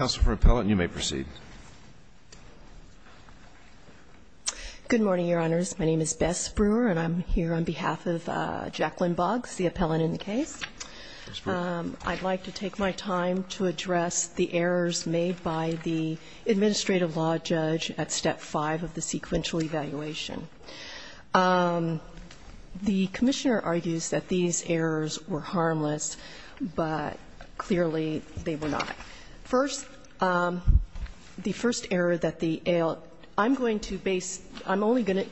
Counsel for Appellant, you may proceed. Good morning, Your Honors. My name is Bess Brewer, and I'm here on behalf of Jacqueline Boggs, the appellant in the case. I'd like to take my time to address the errors made by the administrative law judge at Step 5 of the sequential evaluation. The Commissioner argues that these errors were harmless, but clearly they were not. First, the first error that the ALJ, I'm going to base, I'm only going to,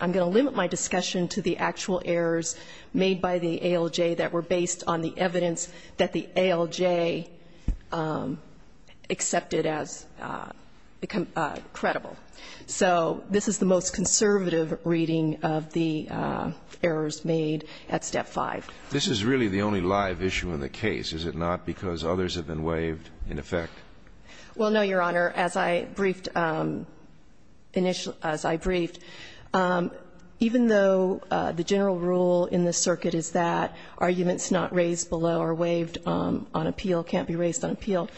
I'm going to limit my discussion to the actual errors made by the ALJ that were based on the evidence that the ALJ accepted as credible. So this is the most conservative reading of the errors made at Step 5. This is really the only live issue in the case, is it not, because others have been waived in effect? Well, no, Your Honor, as I briefed initially, as I briefed, even though the general rule in this circuit is that arguments not raised below are waived on appeal, can't be raised on appeal.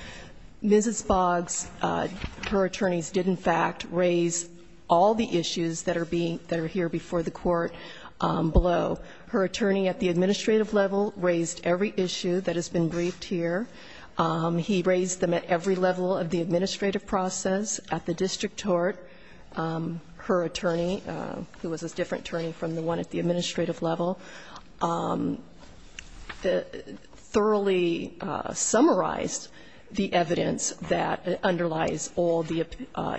Mrs. Boggs, her attorneys did in fact raise all the issues that are being, that are here before the court below. Her attorney at the administrative level raised every issue that has been briefed here. He raised them at every level of the administrative process at the district court. Her attorney, who was a different attorney from the one at the administrative level, thoroughly summarized the evidence that underlies all the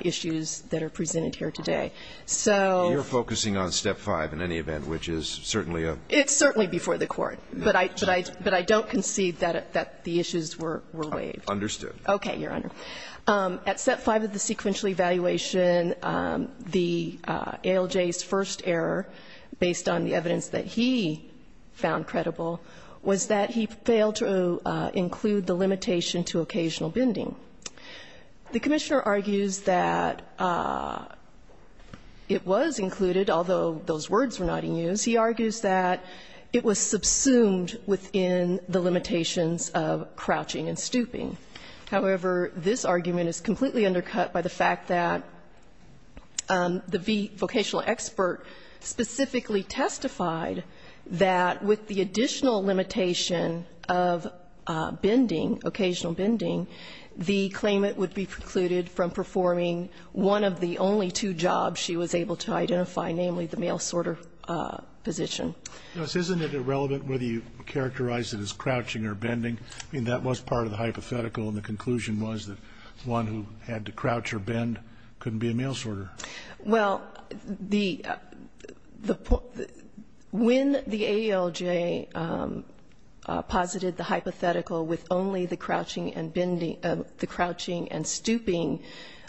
issues that are presented here today. So you're focusing on Step 5 in any event, which is certainly a. It's certainly before the court, but I, but I, but I don't concede that, that the issues were, were waived. Understood. Okay, Your Honor. At Step 5 of the sequential evaluation, the ALJ's first error, based on the evidence that he found credible, was that he failed to include the limitation to occasional bending. The Commissioner argues that it was included, although those words were not in use. He argues that it was subsumed within the limitations of crouching and stooping. However, this argument is completely undercut by the fact that the vocational expert specifically testified that with the additional limitation of bending, occasional bending, the claimant would be precluded from performing one of the only two jobs she was able to identify, namely the mail sorter position. Isn't it irrelevant whether you characterize it as crouching or bending? I mean, that was part of the hypothetical, and the conclusion was that one who had to crouch or bend couldn't be a mail sorter. Well, the, the, when the ALJ posited the hypothetical with only the crouching and bending, the crouching and stooping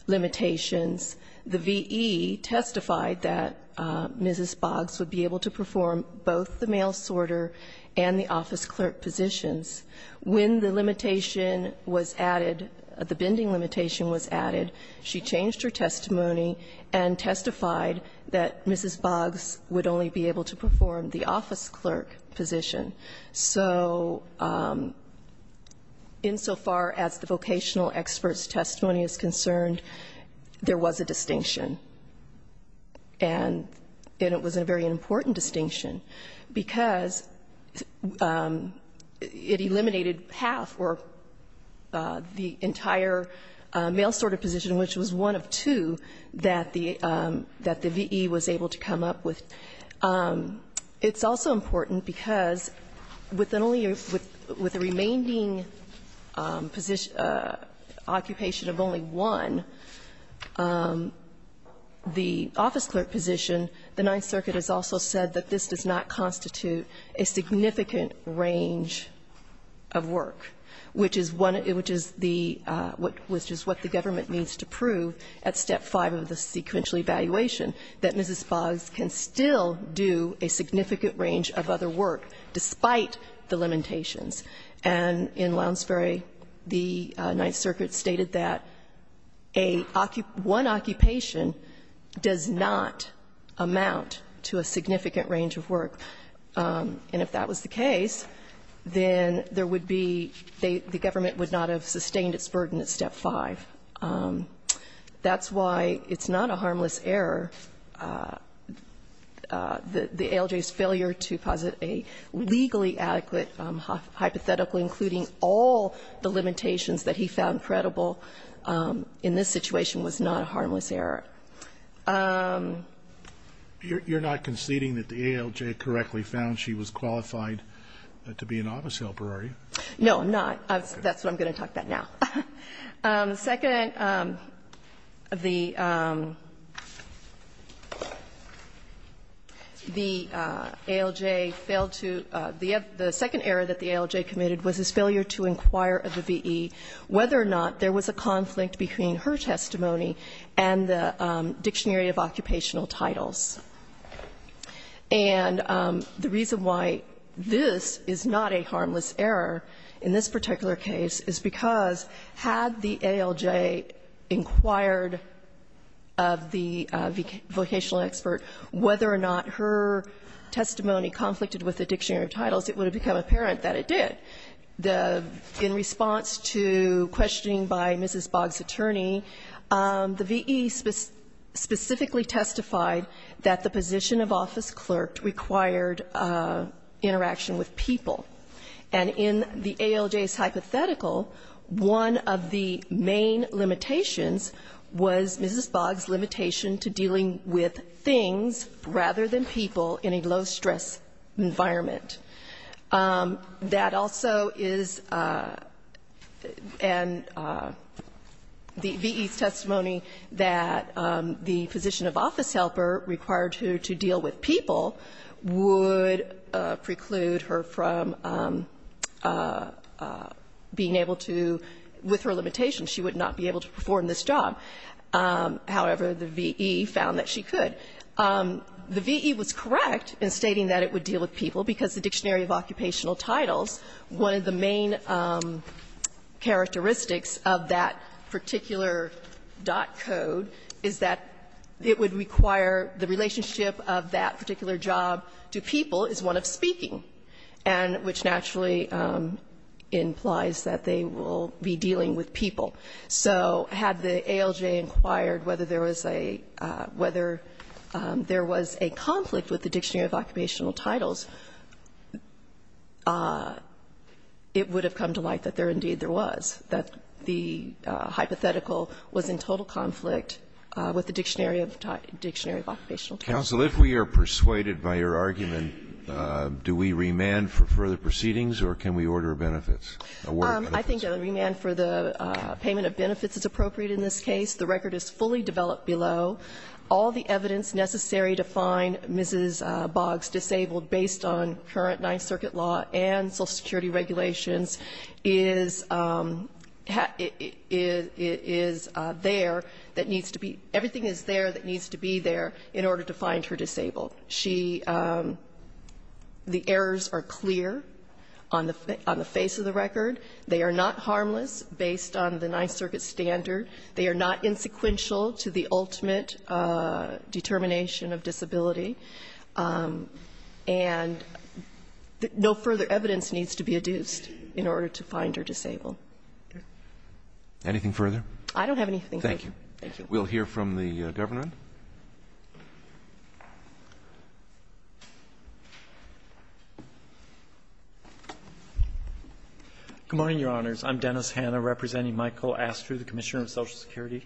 limitations, the V.E. testified that Mrs. Boggs would be able to perform both the mail sorter and the office clerk positions. When the limitation was added, the bending limitation was added, she changed her testimony and testified that Mrs. Boggs would only be able to perform the office clerk position. So insofar as the vocational expert's testimony is concerned, there was a distinction, and it was a very important distinction, because it eliminated half or the entire mail sorter position, which was one of two that the V.E. was able to come up with. It's also important because with the remaining occupation of only one, the office clerk position, the Ninth Circuit has also said that this does not constitute a significant range of work, which is what the government needs to prove at step 5 of the sequential evaluation, that Mrs. Boggs can still do a significant range of other work despite the limitations. And in Lounsbury, the Ninth Circuit stated that one occupation does not amount to a significant range of work, and if that was the case, then there would be the government would not have sustained its burden at step 5. That's why it's not a harmless error. The ALJ's failure to posit a legally adequate hypothetical including all the limitations that he found credible in this situation was not a harmless error. Scalia. You're not conceding that the ALJ correctly found she was qualified to be an office helper, are you? No, I'm not. That's what I'm going to talk about now. Second, the ALJ failed to the second error that the ALJ committed was its failure to inquire of the V.E. whether or not there was a conflict between her testimony and the Dictionary of Occupational Titles. And the reason why this is not a harmless error in this particular case is because had the ALJ inquired of the vocational expert whether or not her testimony conflicted with the Dictionary of Titles, it would have become apparent that it did. In response to questioning by Mrs. Boggs' attorney, the V.E. specifically testified that the position of office clerk required interaction with people. And in the ALJ's hypothetical, one of the main limitations was Mrs. Boggs' limitation to dealing with things rather than people in a low-stress environment. That also is and the V.E.'s testimony that the position of office helper required her to deal with people would preclude her from being able to, with her limitation, she would not be able to perform this job. However, the V.E. found that she could. The V.E. was correct in stating that it would deal with people, because the Dictionary of Occupational Titles, one of the main characteristics of that particular dot code is that it would require the relationship of that particular job to people is one of speaking, and which naturally implies that they will be dealing with people. So had the ALJ inquired whether there was a, whether there was a conflict with the Dictionary of Occupational Titles, it would have come to light that there indeed there was, that the hypothetical was in total conflict with the Dictionary of Occupational Titles. If we are persuaded by your argument, do we remand for further proceedings or can we order benefits? I think a remand for the payment of benefits is appropriate in this case. The record is fully developed below. All the evidence necessary to find Mrs. Boggs disabled based on current Ninth Circuit law and Social Security regulations is, is there that needs to be, everything is there that needs to be there in order to find her disabled. She, the errors are clear on the face of the record. They are not harmless based on the Ninth Circuit standard. They are not insequential to the ultimate determination of disability. And no further evidence needs to be adduced in order to find her disabled. Anything further? I don't have anything further. Thank you. Thank you. We'll hear from the government. Good morning, Your Honors. I'm Dennis Hanna, representing Michael Astre, the Commissioner of Social Security.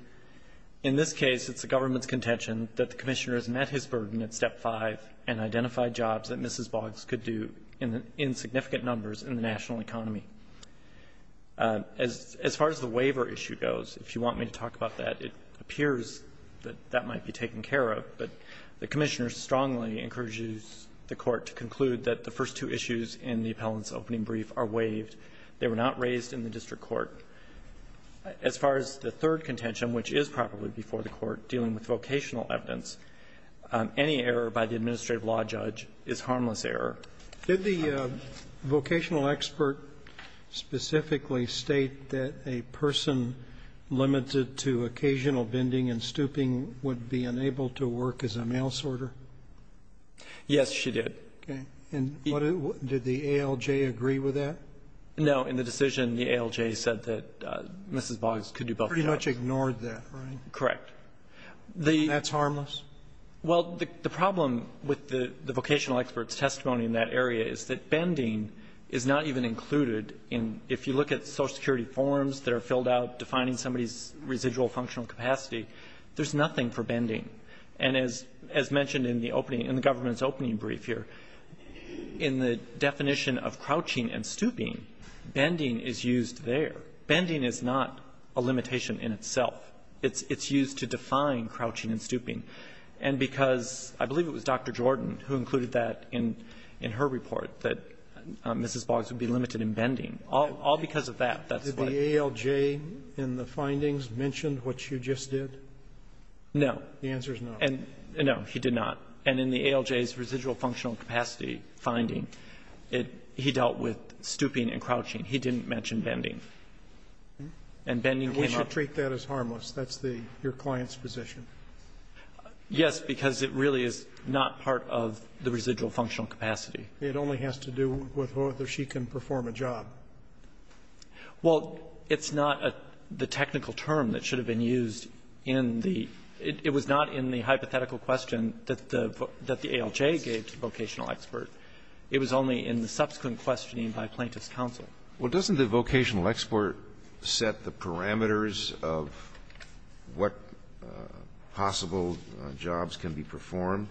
In this case, it's the government's contention that the Commissioner has met his burden at Step 5 and identified jobs that Mrs. Boggs could do in significant numbers in the national economy. As far as the waiver issue goes, if you want me to talk about that, it appears that that might be taken care of. But the Commissioner strongly encourages the Court to conclude that the first two issues in the appellant's opening brief are waived. They were not raised in the district court. As far as the third contention, which is probably before the Court, dealing with vocational evidence, any error by the administrative law judge is harmless error. Did the vocational expert specifically state that a person limited to occasional bending and stooping would be unable to work as a mail-sorter? Yes, she did. Okay. And did the ALJ agree with that? No. In the decision, the ALJ said that Mrs. Boggs could do both jobs. Pretty much ignored that, right? Correct. And that's harmless? Well, the problem with the vocational expert's testimony in that area is that bending is not even included in, if you look at Social Security forms that are filled out defining somebody's residual functional capacity, there's nothing for bending. And as mentioned in the opening, in the government's opening brief here, in the definition of crouching and stooping, bending is used there. Bending is not a limitation in itself. It's used to define crouching and stooping. And because I believe it was Dr. Jordan who included that in her report, that Mrs. Boggs would be limited in bending. All because of that. That's what the ALJ in the findings mentioned, which you just did? No. The answer is no. No, he did not. And in the ALJ's residual functional capacity finding, he dealt with stooping and crouching. He didn't mention bending. And bending came up. And we should treat that as harmless. That's your client's position. Yes, because it really is not part of the residual functional capacity. It only has to do with whether she can perform a job. Well, it's not the technical term that should have been used in the – it was not in the hypothetical question that the ALJ gave to vocational expert. It was only in the subsequent questioning by plaintiff's counsel. Well, doesn't the vocational expert set the parameters of what possible jobs can be performed?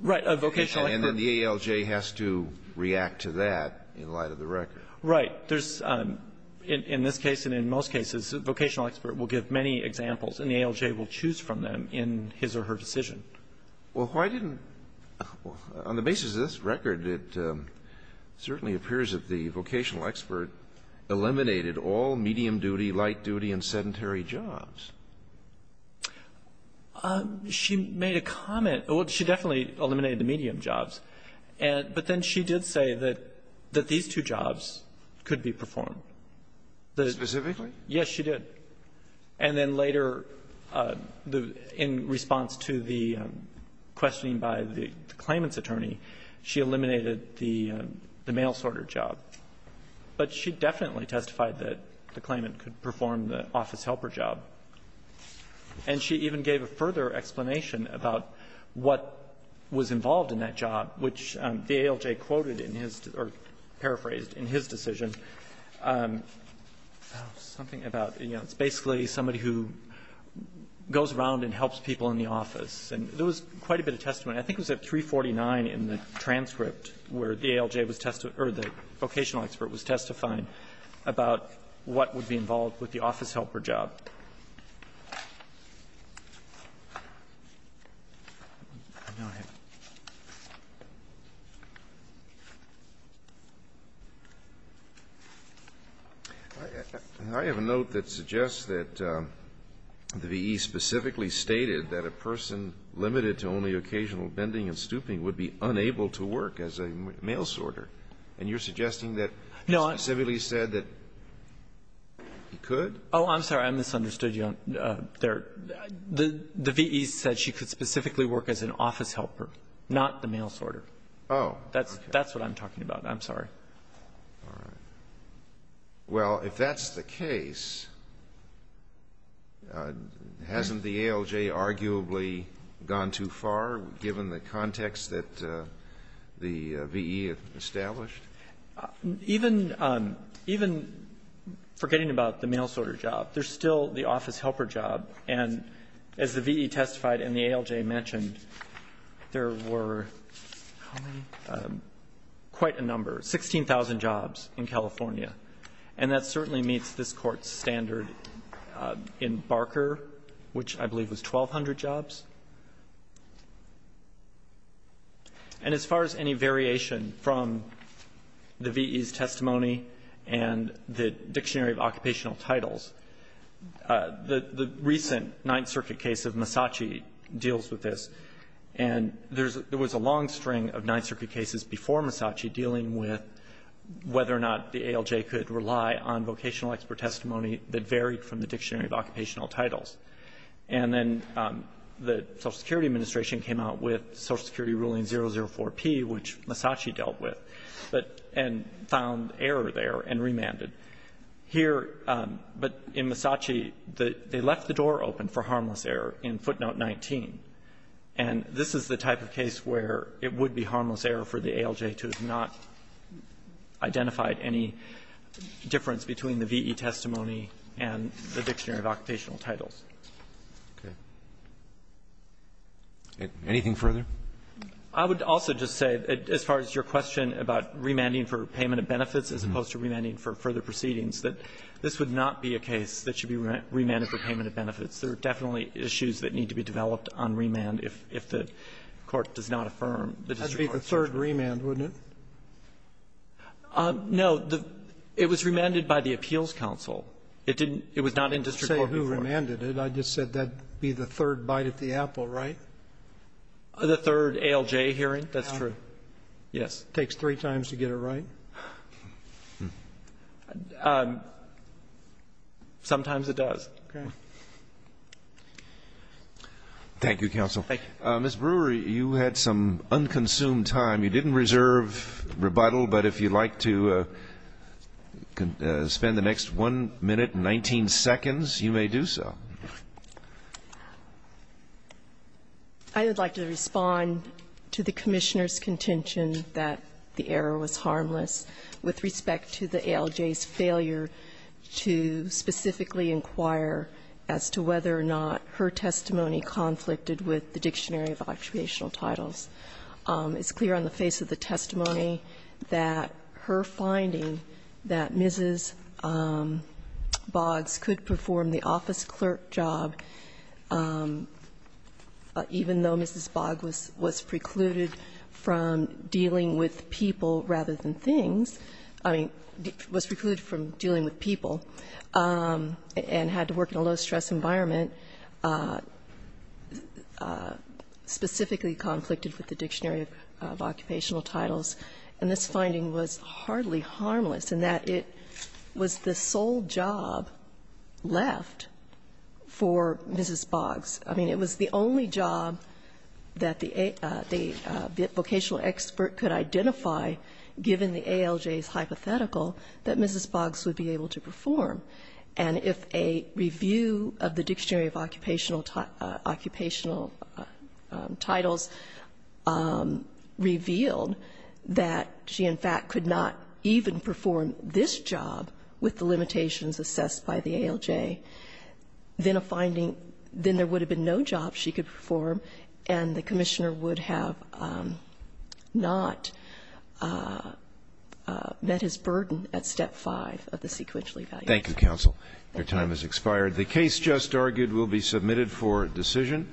Right. A vocational expert. And then the ALJ has to react to that in light of the record. Right. There's, in this case and in most cases, the vocational expert will give many examples, and the ALJ will choose from them in his or her decision. Well, why didn't – on the basis of this record, it certainly appears that the vocational expert eliminated all medium-duty, light-duty and sedentary jobs. She made a comment. Well, she definitely eliminated the medium jobs. But then she did say that these two jobs could be performed. Specifically? Yes, she did. And then later, in response to the questioning by the claimant's attorney, she eliminated the mail-sorter job. But she definitely testified that the claimant could perform the office-helper job. And she even gave a further explanation about what was involved in that job, which the ALJ quoted in his – or paraphrased in his decision. Something about, you know, it's basically somebody who goes around and helps people in the office. And there was quite a bit of testimony. I think it was at 349 in the transcript where the ALJ was testifying – or the vocational expert was testifying about what would be involved with the office-helper job. I have a note that suggests that the V.E. specifically stated that a person limited to only occasional bending and stooping would be unable to work as a mail-sorter. And you're suggesting that he specifically said that he could? Oh, I'm sorry. I'm misunderstanding. I misunderstood you there. The V.E. said she could specifically work as an office-helper, not the mail-sorter. Oh. That's what I'm talking about. I'm sorry. All right. Well, if that's the case, hasn't the ALJ arguably gone too far, given the context that the V.E. established? Even forgetting about the mail-sorter job, there's still the office-helper job. And as the V.E. testified and the ALJ mentioned, there were quite a number, 16,000 jobs in California. And that certainly meets this Court's standard in Barker, which I believe was 1,200 jobs. And as far as any variation from the V.E.'s testimony and the Dictionary of Occupational Titles, the recent Ninth Circuit case of Massachi deals with this. And there was a long string of Ninth Circuit cases before Massachi dealing with whether or not the ALJ could rely on vocational expert testimony that varied from the Dictionary of Occupational Titles. And then the Social Security Administration came out with Social Security Ruling 004P, which Massachi dealt with and found error there and remanded. Here, but in Massachi, they left the door open for harmless error in footnote 19. And this is the type of case where it would be harmless error for the ALJ to have not Okay. Anything further? I would also just say, as far as your question about remanding for payment of benefits as opposed to remanding for further proceedings, that this would not be a case that should be remanded for payment of benefits. There are definitely issues that need to be developed on remand if the Court does not affirm the district court's judgment. That would be the third remand, wouldn't it? No. It was remanded by the Appeals Council. It didn't – it was not in district court before. You remanded it. I just said that would be the third bite at the apple, right? The third ALJ hearing? That's true. Yes. It takes three times to get it right? Sometimes it does. Okay. Thank you, Counsel. Thank you. Ms. Brewer, you had some unconsumed time. You didn't reserve rebuttal, but if you'd like to spend the next 1 minute and 19 seconds, you may do so. I would like to respond to the Commissioner's contention that the error was harmless with respect to the ALJ's failure to specifically inquire as to whether or not her testimony conflicted with the Dictionary of Actuational Titles. It's clear on the face of the testimony that her finding that Mrs. Boggs could perform the office clerk job, even though Mrs. Boggs was precluded from dealing with people rather than things – I mean, was precluded from dealing with people and had to work in a low-stress environment, specifically conflicted with the Dictionary of Occupational Titles, and this finding was hardly harmless in that it was the sole job left for Mrs. Boggs. I mean, it was the only job that the vocational expert could identify, given the ALJ's hypothetical, that Mrs. Boggs would be able to perform. And if a review of the Dictionary of Occupational Titles revealed that she, in fact, could not even perform this job with the limitations assessed by the ALJ, then a finding – then there would have been no job she could perform, and the Commissioner would have not met his burden at Step 5 of the sequential evaluation. Thank you, counsel. Your time has expired. The case just argued will be submitted for decision.